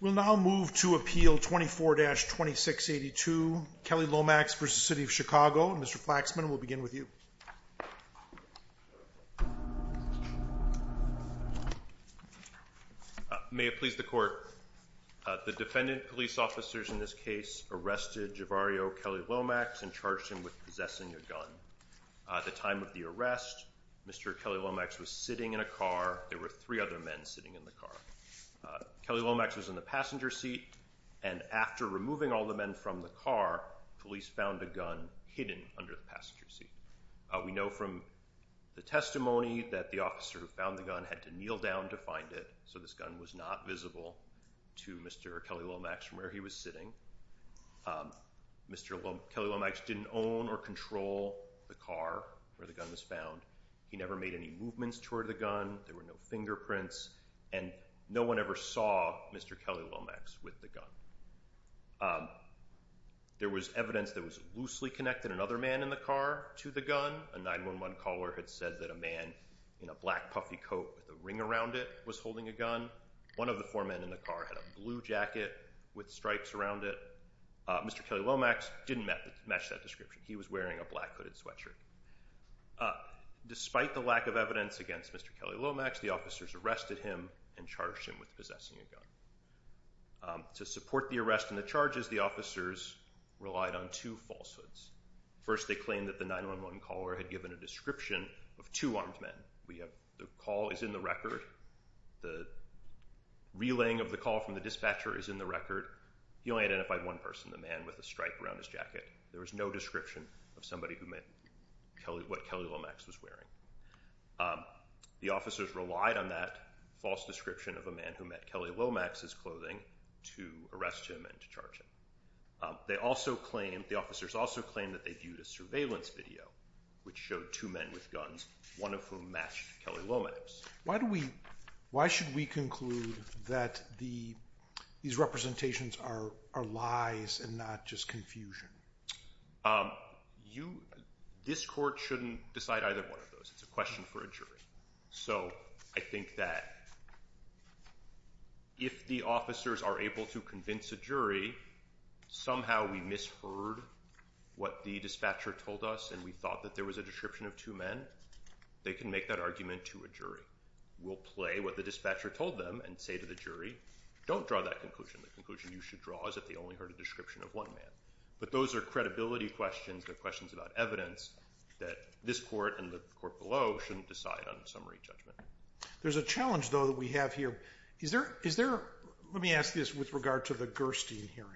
We will now move to appeal 24-2682, Kelley-Lomax v. City of Chicago, and Mr. Flaxman will begin with you. May it please the court, the defendant police officers in this case arrested Jevarreo Kelley-Lomax and charged him with possessing a gun. At the time of the arrest, Mr. Kelley-Lomax was sitting in a car. There were three other men sitting in the car. Kelley-Lomax was in the passenger seat, and after removing all the men from the car, police found a gun hidden under the passenger seat. We know from the testimony that the officer who found the gun had to kneel down to find it, so this gun was not visible to Mr. Kelley-Lomax from where he was sitting. Mr. Kelley-Lomax didn't own or control the car where the gun was found. He never made any movements toward the gun. There were no fingerprints, and no one ever saw Mr. Kelley-Lomax with the gun. There was evidence that it was loosely connected. Another man in the car to the gun, a 911 caller had said that a man in a black puffy coat with a ring around it was holding a gun. One of the four men in the car had a blue jacket with stripes around it. Mr. Kelley-Lomax didn't match that description. He was wearing a black hooded sweatshirt. Despite the lack of evidence against Mr. Kelley-Lomax, the officers arrested him and charged him with possessing a gun. To support the arrest and the charges, the officers relied on two falsehoods. First, they claimed that the 911 caller had given a description of two armed men. The call is in the record. The relaying of the call from the dispatcher is in the record. He only identified one person, the man with the stripe around his jacket. There was no description of somebody who met what Kelley-Lomax was wearing. The officers relied on that false description of a man who met Kelley-Lomax's clothing to arrest him and to charge him. The officers also claimed that they viewed a surveillance video which showed two men with guns, one of whom matched Kelley-Lomax. Why should we conclude that these representations are lies and not just confusion? This court shouldn't decide either one of those. It's a question for a jury. I think that if the officers are able to convince a jury somehow we misheard what the dispatcher told us and we thought that there was a description of two men, they can make that argument to a jury. We'll play what the dispatcher told them and say to the jury, don't draw that conclusion. The conclusion you should draw is that they only heard a description of one man. But those are credibility questions. They're questions about evidence that this court and the court below shouldn't decide on a summary judgment. There's a challenge, though, that we have here. Let me ask this with regard to the Gerstein hearing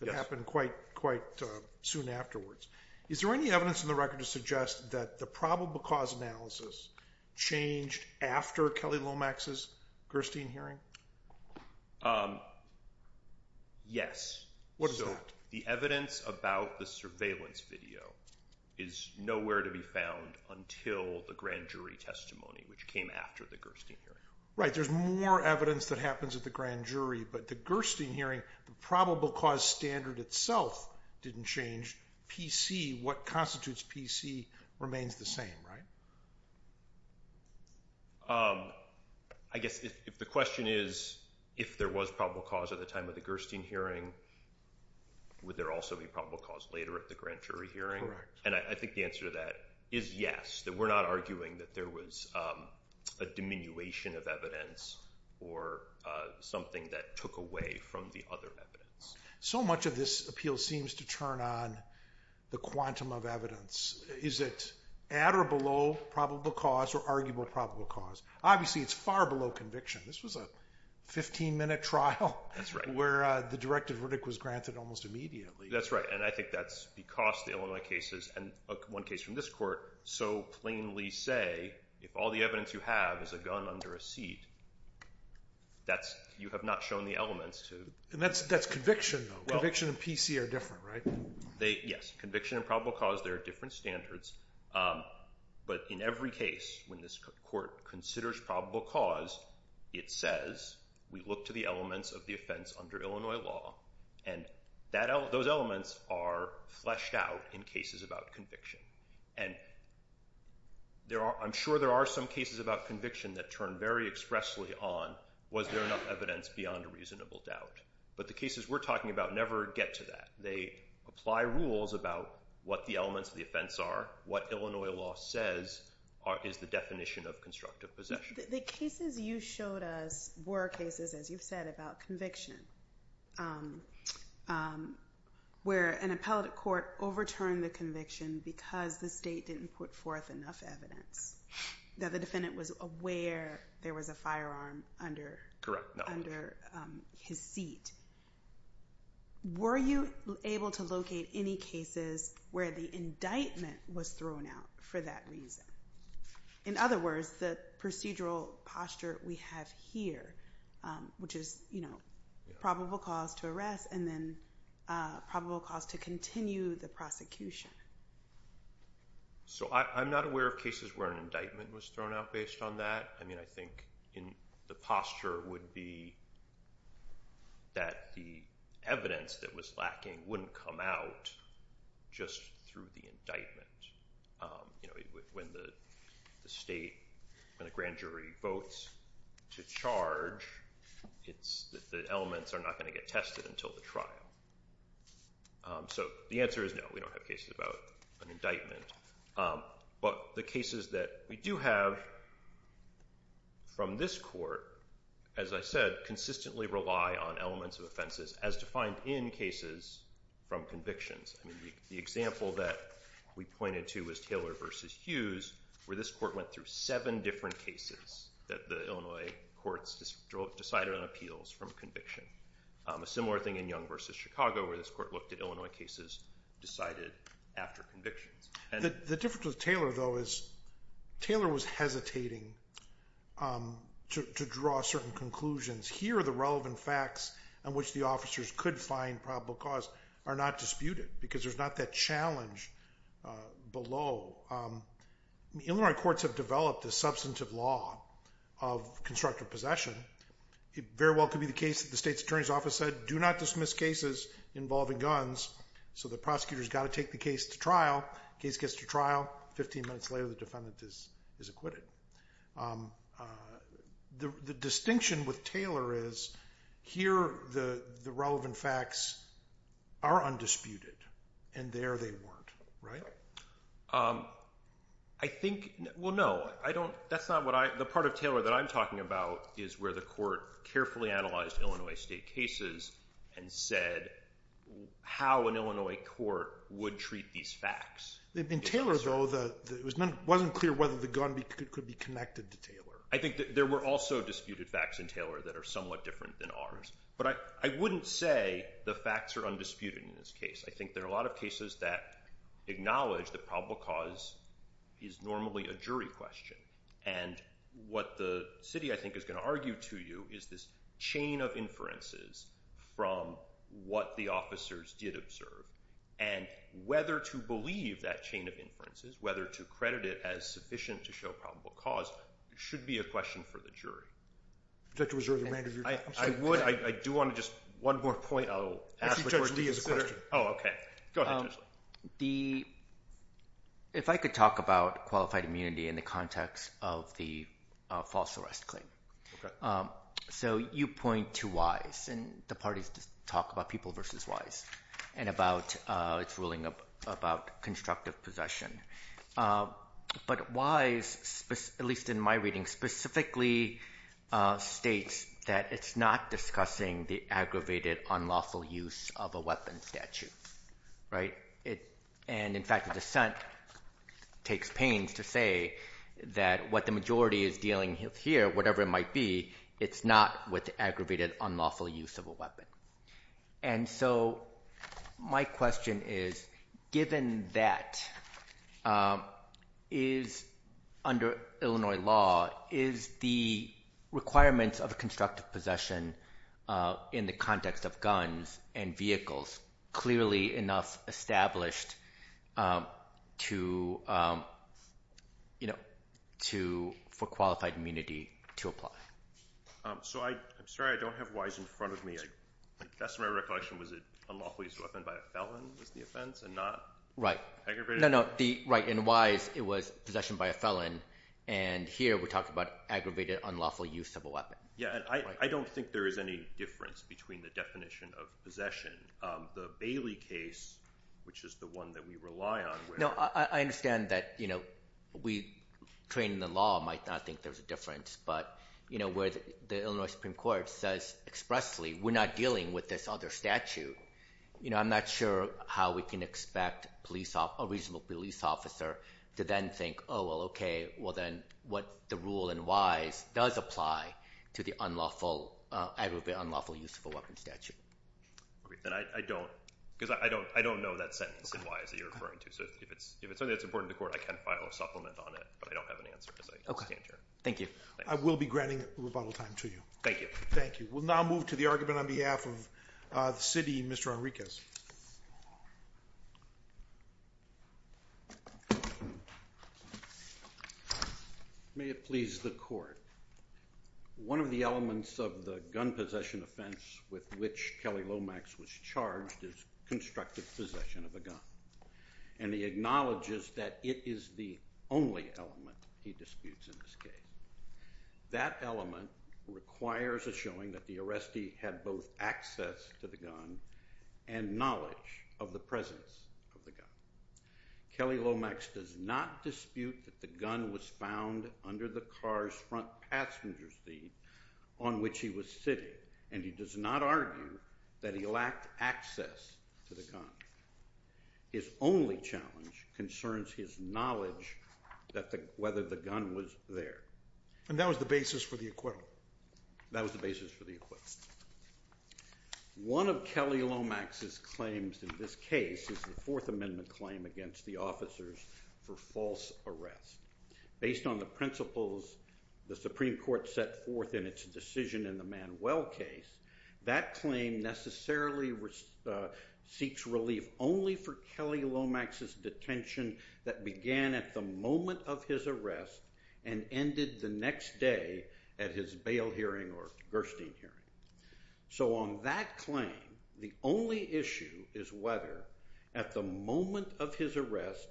that happened quite soon afterwards. Is there any evidence in the record to suggest that the probable cause analysis changed after Kelley-Lomax's Gerstein hearing? Yes. What is that? The evidence about the surveillance video is nowhere to be found until the grand jury testimony, which came after the Gerstein hearing. Right. There's more evidence that happens at the grand jury, but the Gerstein hearing, the probable cause standard itself didn't change. PC, what constitutes PC, remains the same, right? I guess if the question is, if there was probable cause at the time of the Gerstein hearing, would there also be probable cause later at the grand jury hearing? Correct. And I think the answer to that is yes, that we're not arguing that there was a diminution of evidence or something that took away from the other evidence. So much of this appeal seems to turn on the quantum of evidence. Is it at or below probable cause or arguable probable cause? Obviously, it's far below conviction. This was a 15-minute trial where the directive verdict was granted almost immediately. That's right, and I think that's because the Illinois cases, and one case from this court, so plainly say, if all the evidence you have is a gun under a seat, you have not shown the elements to... That's conviction, though. Conviction and PC are different, right? Yes. Conviction and probable cause, there are different standards, but in every case when this court considers probable cause, it says, we look to the elements of the offense under Illinois law, and those elements are fleshed out in cases about conviction. I'm sure there are some cases about conviction that turn very expressly on, was there enough evidence beyond a reasonable doubt, but the cases we're talking about never get to that. They apply rules about what the elements of the offense are, what Illinois law says is the definition of constructive possession. The cases you showed us were cases, as you've said, about conviction, where an appellate court overturned the conviction because the state didn't put forth enough evidence, that the defendant was aware there was a firearm under... Correct, no. Under his seat. Were you able to locate any cases where the indictment was thrown out for that reason? In other words, the procedural posture we have here, which is probable cause to arrest, and then probable cause to continue the prosecution. So, I'm not aware of cases where an indictment was thrown out based on that. I mean, I think in the posture would be that the evidence that was lacking wouldn't come out just through the indictment. When the state and the grand jury votes to charge, the elements are not going to get tested until the trial. So, the answer is no, we don't have cases about an court, as I said, consistently rely on elements of offenses as defined in cases from convictions. The example that we pointed to was Taylor v. Hughes, where this court went through seven different cases that the Illinois courts decided on appeals from conviction. A similar thing in Young v. Chicago, where this court looked at Illinois cases decided after convictions. The difference with Taylor, though, is Taylor was hesitating to draw certain conclusions. Here, the relevant facts on which the officers could find probable cause are not disputed, because there's not that challenge below. Illinois courts have developed a substantive law of constructive possession. It very well could be the case that the state's attorney's office said, do not dismiss cases involving guns. So, the prosecutor's got to take the trial. Case gets to trial. Fifteen minutes later, the defendant is acquitted. The distinction with Taylor is, here, the relevant facts are undisputed, and there, they weren't, right? I think, well, no. I don't, that's not what I, the part of Taylor that I'm talking about is where the court carefully analyzed Illinois state cases and said how an Illinois court would treat these facts. In Taylor, though, it wasn't clear whether the gun could be connected to Taylor. I think that there were also disputed facts in Taylor that are somewhat different than ours, but I wouldn't say the facts are undisputed in this case. I think there are a lot of cases that acknowledge the probable cause is normally a jury question, and what the city, I think, is going to argue to you is this chain of inferences from what the officers did observe, and whether to believe that chain of inferences, whether to credit it as sufficient to show probable cause, should be a question for the jury. I would, I do want to just, one more point, I'll ask the court to consider. Actually, Judge Lee has a question. Oh, okay. Go ahead, Judge Lee. The, if I could talk about qualified immunity in the context of the false arrest claim. So, you point to Wise, and the parties just talk about People v. Wise, and about its ruling about constructive possession. But Wise, at least in my reading, specifically states that it's not discussing the aggravated, unlawful use of a weapon statute, right? And, in fact, the dissent takes pains to say that what the majority is dealing with here, whatever it might be, it's not with the aggravated, unlawful use of a weapon. And so, my question is, given that, is, under Illinois law, is the requirements of constructive possession in the context of guns and vehicles clearly enough established to, you know, to, for qualified immunity to apply? So, I'm sorry, I don't have Wise in front of me. Best of my recollection, was it unlawful use of a weapon by a felon was the offense, and not? Right. Aggravated? No, no, the, right, in Wise, it was possession by a felon. And here, we're talking about aggravated, unlawful use of a weapon. Yeah, and I don't think there is any difference between the definition of possession. The Bailey case, which is the one that we rely on. No, I understand that, you know, we, training the law might not think there's a difference, but, you know, where the Illinois Supreme Court says expressly, we're not dealing with this other statute. You know, I'm not sure how we can expect police, a reasonable police officer, to then think, oh, well, okay, well, then, what the rule in Wise does apply to the unlawful, aggravated, unlawful use of a weapon statute. And I don't, because I don't know that sentence in Wise that you're referring to, so if it's, if it's something that's important to court, I can file a supplement on it, but I don't have an answer, as I understand, Your Honor. Thank you. I will be granting rebuttal time to you. Thank you. Thank you. We'll now move to the argument on behalf of the city, Mr. Henriques. May it please the court. One of the elements of the gun possession offense with which Kelly Lomax was charged is constructive possession of a gun, and he acknowledges that it is the only element he disputes in this case. That element requires a showing that the arrestee had both access to the gun and knowledge of the presence of the gun. Kelly Lomax does not dispute that the gun was found under the car's front passenger seat on which he was sitting, and he does not argue that he lacked access to the gun. His only challenge concerns his knowledge that the, whether the gun was there. And that was the basis for the acquittal. That was the basis for the acquittal. One of Kelly Lomax's claims in this case is the Fourth Amendment claim against the officers for false arrest. Based on the principles the Supreme Court set forth in its decision in the Manuel case, that claim necessarily seeks relief only for Kelly Lomax's detention that began at the moment of his arrest and ended the next day at his bail hearing or Gerstein hearing. So on that claim, the only issue is whether, at the moment of his arrest,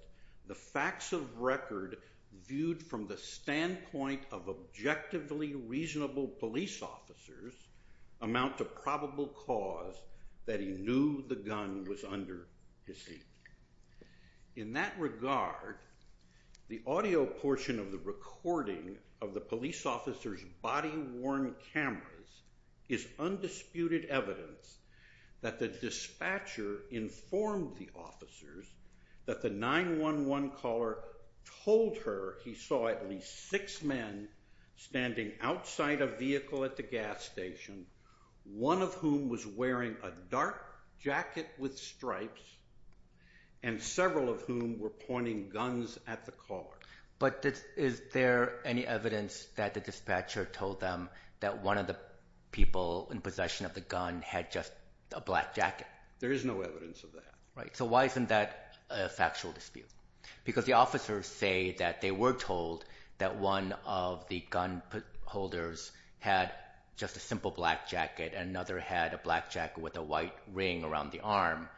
the facts of record viewed from the standpoint of objectively reasonable police officers amount to probable cause that he knew the gun was under his seat. In that regard, the audio portion of the recording of the police officers' body-worn cameras is undisputed evidence that the dispatcher informed the officers that the 911 caller told her he saw at least six men standing outside a vehicle at the gas station, one of whom was wearing a dark jacket with stripes, and several of whom were pointing guns at the caller. But is there any evidence that the dispatcher told them that one of the people in possession of the gun had just a black jacket? There is no evidence of that. Right. So why isn't that a factual dispute? Because the officers say that they were told that one of the gun holders had just a simple black jacket and another had a black jacket with a white ring around the arm.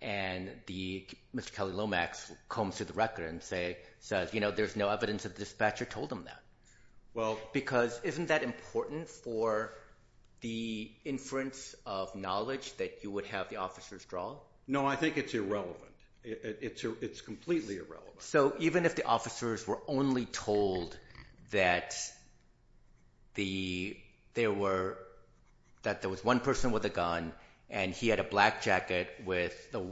And Mr. Kelly Lomax combs through the record and says, you know, there's no evidence that the dispatcher told him that. Because isn't that important for the inference of knowledge that you would have the officers draw? No, I think it's irrelevant. It's completely irrelevant. So even if the officers were only told that there was one person with a gun and he had a black jacket with the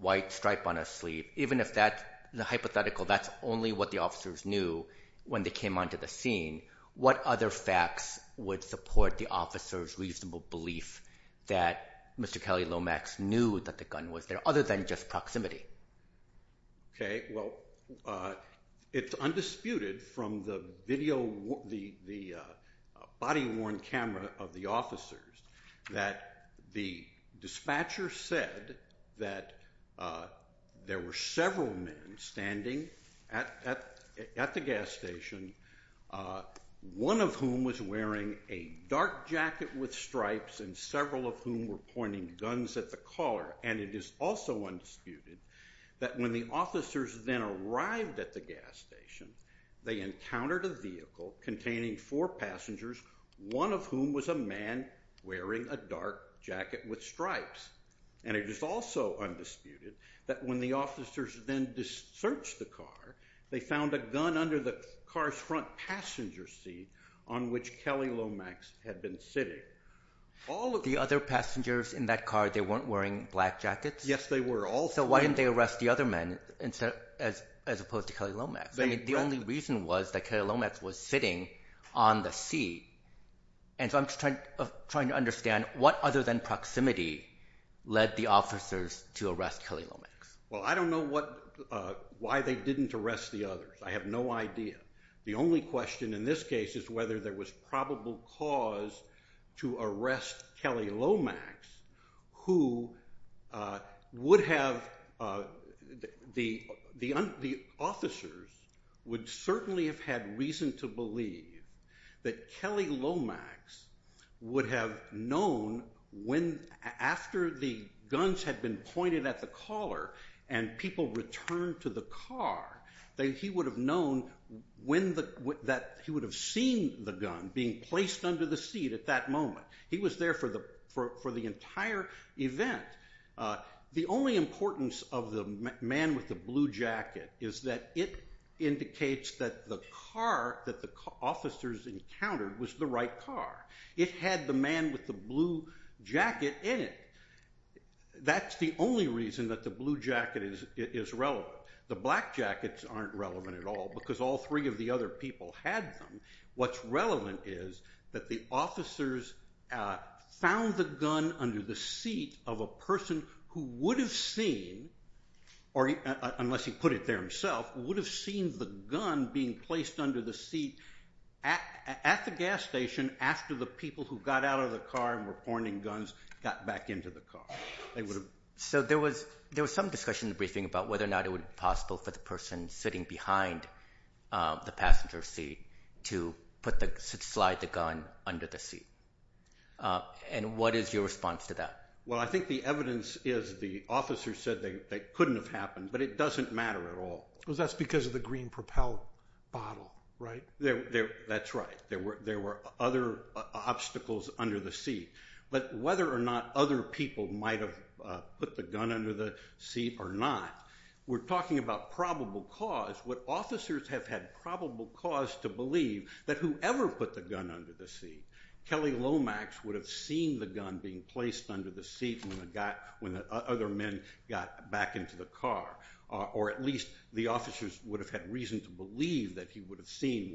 white stripe on his sleeve, even if that's hypothetical, that's only what the officers knew when they came onto the scene. What other facts would support the officer's reasonable belief that Mr. Kelly Lomax knew that the gun was there, other than just proximity? Okay. Well, it's undisputed from the body-worn camera of the officers that the dispatcher said that there were several men standing at the gas station, one of whom was wearing a dark jacket with stripes and several of whom were pointing guns at the caller. And it is also undisputed that when the officers then arrived at the gas station, they encountered a vehicle containing four passengers, one of whom was a man wearing a dark jacket with stripes. And it is also undisputed that when the officers then searched the car, they found a gun under the car's front passenger seat on which Kelly Lomax had been sitting. The other passengers in that car, they weren't wearing black jackets? Yes, they were. So why didn't they arrest the other men as opposed to Kelly Lomax? The only reason was that Kelly Lomax was sitting on the seat. And so I'm just trying to understand what other than proximity led the officers to arrest Kelly Lomax. Well, I don't know why they didn't arrest the others. I have no idea. The only question in this case is whether there was probable cause to arrest Kelly Lomax, who would have, the officers would certainly have had reason to believe that Kelly Lomax would have known after the guns had been pointed at the caller and people returned to the car, that he would have seen the gun being placed under the seat at that moment. He was there for the entire event. The only importance of the man with the blue jacket is that it indicates that the car that officers encountered was the right car. It had the man with the blue jacket in it. That's the only reason that the blue jacket is relevant. The black jackets aren't relevant at all because all three of the other people had them. What's relevant is that the officers found the gun under the seat of a person who would have seen, or unless he put it there himself, would have seen the gun being placed under the seat at the gas station after the people who got out of the car and were pointing guns got back into the car. There was some discussion in the briefing about whether or not it would be possible for the person sitting behind the passenger seat to slide the gun under the seat. What is your response to that? Well, I think the evidence is the officer said they couldn't have happened, but it doesn't matter at all. That's because of the green propel bottle, right? That's right. There were other obstacles under the seat, but whether or not other people might have put the gun under the seat or not, we're talking about probable cause. Would officers have had probable cause to believe that whoever put the gun under the seat, Kelly Lomax would have seen the gun being placed under the seat when the other men got back into the car, or at least the officers would have had reason to believe that he would have seen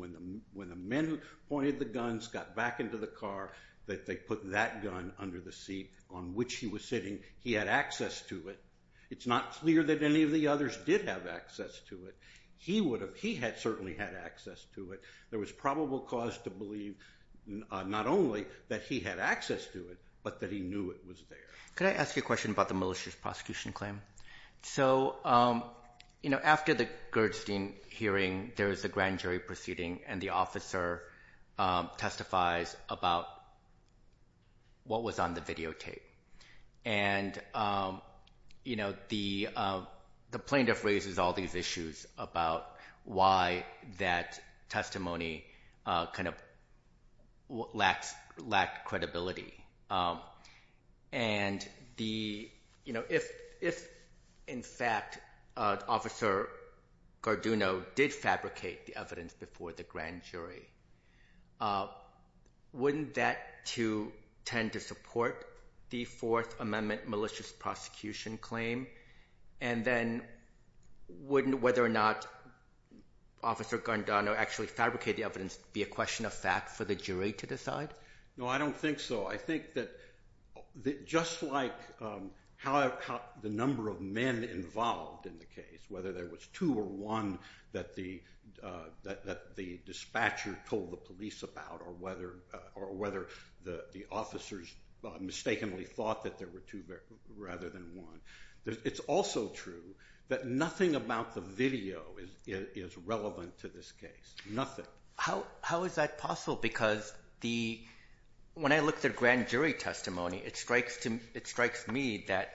when the men who pointed the guns got back into the car that they put that gun under the seat on which he was sitting, he had access to it. It's not clear that any of the others did have access to it. He certainly had access to it. There was probable cause to believe not only that he had access to it, but that he knew it was there. Could I ask you a question about the malicious prosecution claim? After the Gerstein hearing, there was a grand jury proceeding, and the officer testifies about what was on the videotape. And the plaintiff raises all these issues about why that testimony lacked credibility. If, in fact, Officer Garduno did fabricate the evidence before the grand jury, wouldn't that tend to support the Fourth Amendment malicious prosecution claim? And then wouldn't whether or not Officer Garduno actually fabricate the evidence be a question of fact for the jury to decide? No, I don't think so. I think that just like how the number of men involved in the case, whether there was two or one that the dispatcher told the police about, or whether the officers mistakenly thought that there were two rather than one, it's also true that nothing about the video is relevant to this case. Nothing. How is that possible? Because when I looked at grand jury testimony, it strikes me that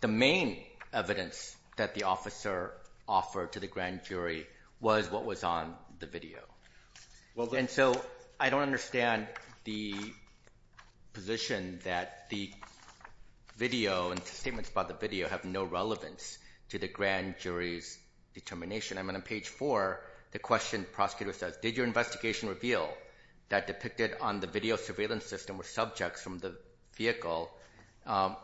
the main evidence that the officer offered to the grand jury was what was on the video. And so I don't understand the position that the video and statements about the video have no relevance to the grand jury's determination. I'm on page four. The question prosecutor says, did your investigation reveal that depicted on the video surveillance system were subjects from the vehicle? And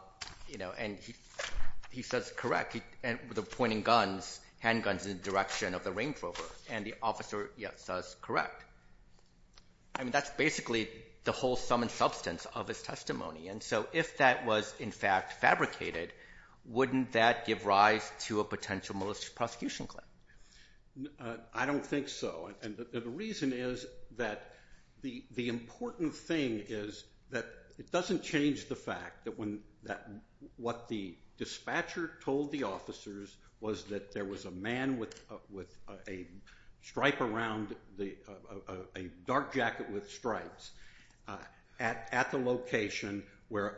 he says, correct. And the pointing guns, handguns in the direction of the Range Rover. And the officer says, correct. I mean, that's basically the whole sum and substance of his testimony. And so if that was in fact fabricated, wouldn't that give rise to a potential malicious prosecution claim? I don't think so. And the reason is that the important thing is that it doesn't change the fact that what the dispatcher told the officers was that there was a man with a stripe around, a dark jacket with stripes at the location where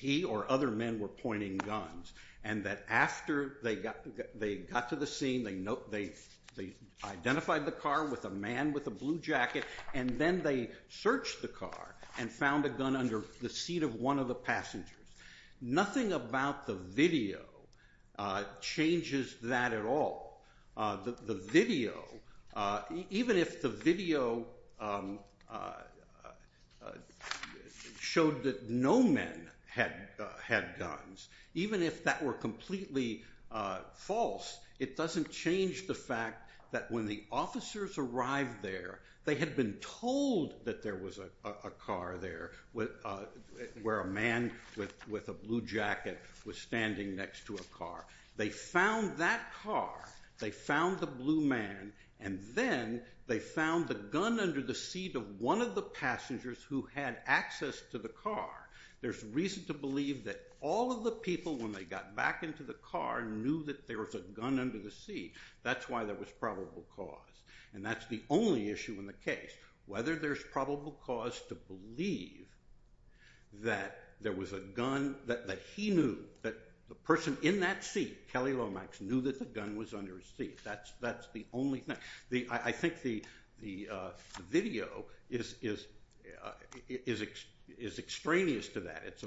he or other men were pointing guns. And that after they got to the scene, they identified the car with a man with a blue jacket and then they searched the car and found a gun under the seat of one of the passengers. Nothing about the video changes that at all. The video, even if the video showed that no men had guns, even if that were completely false, it doesn't change the fact that when the officers arrived there, they had been told that there was a car there, where a man with a blue jacket was standing next to a car. They found that car, they found the blue man, and then they found the gun under the seat of one of the passengers who had access to the car. There's reason to believe that all of the people, when they got back into the car, knew that there was a gun under the seat. That's why there was probable cause. And that's the only issue in the case, whether there's probable cause to believe that there was a gun, that he knew, that the person in that seat, Kelly Lomax, knew that the gun was under his seat. That's the only thing. I think the video is extraneous to that. It's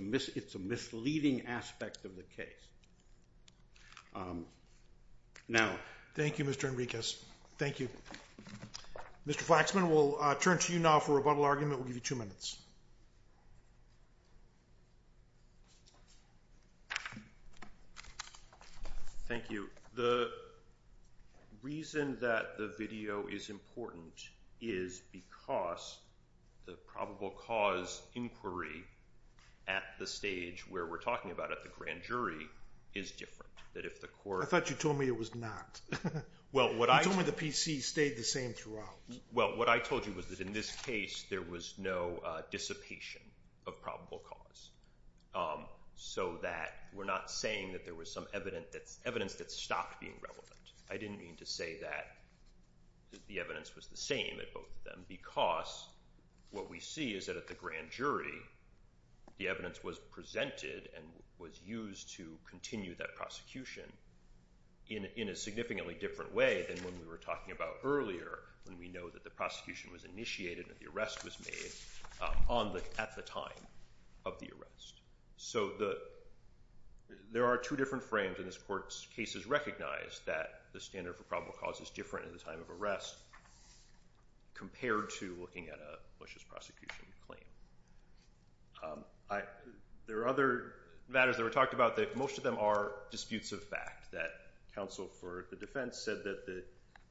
a misleading aspect of the case. Thank you, Mr. Enriquez. Thank you. Mr. Flaxman, we'll turn to you now for a rebuttal argument. We'll give you two minutes. Thank you. The reason that the video is important is because the probable cause inquiry at the stage where we're talking about, at the grand jury, is different. I thought you told me it was not. You told me the PC stayed the same throughout. Well, what I told you was that in this case, there was no dissipation of probable cause, so that we're not saying that there was some evidence that stopped being relevant. I didn't mean to say that the evidence was the same at both of them, because what we see is that at the grand jury, the evidence was presented and was used to continue that prosecution in a significantly different way than when we were talking about earlier, when we know that the prosecution was initiated and the arrest was made at the time of the arrest. So there are two different frames in this court's cases recognize that the standard for probable cause is different at the time of the arrest. There are other matters that were talked about that most of them are disputes of fact, that counsel for the defense said that the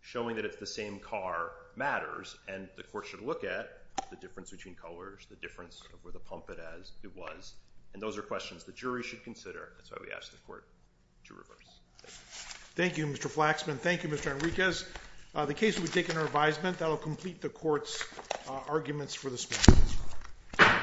showing that it's the same car matters, and the court should look at the difference between colors, the difference of where the pump it as it was, and those are questions the jury should consider. That's why we asked the court to reverse. Thank you, Mr. Flaxman. Thank you, Mr. Enriquez. The case will be taken under advisement. That'll complete the court's arguments for this matter.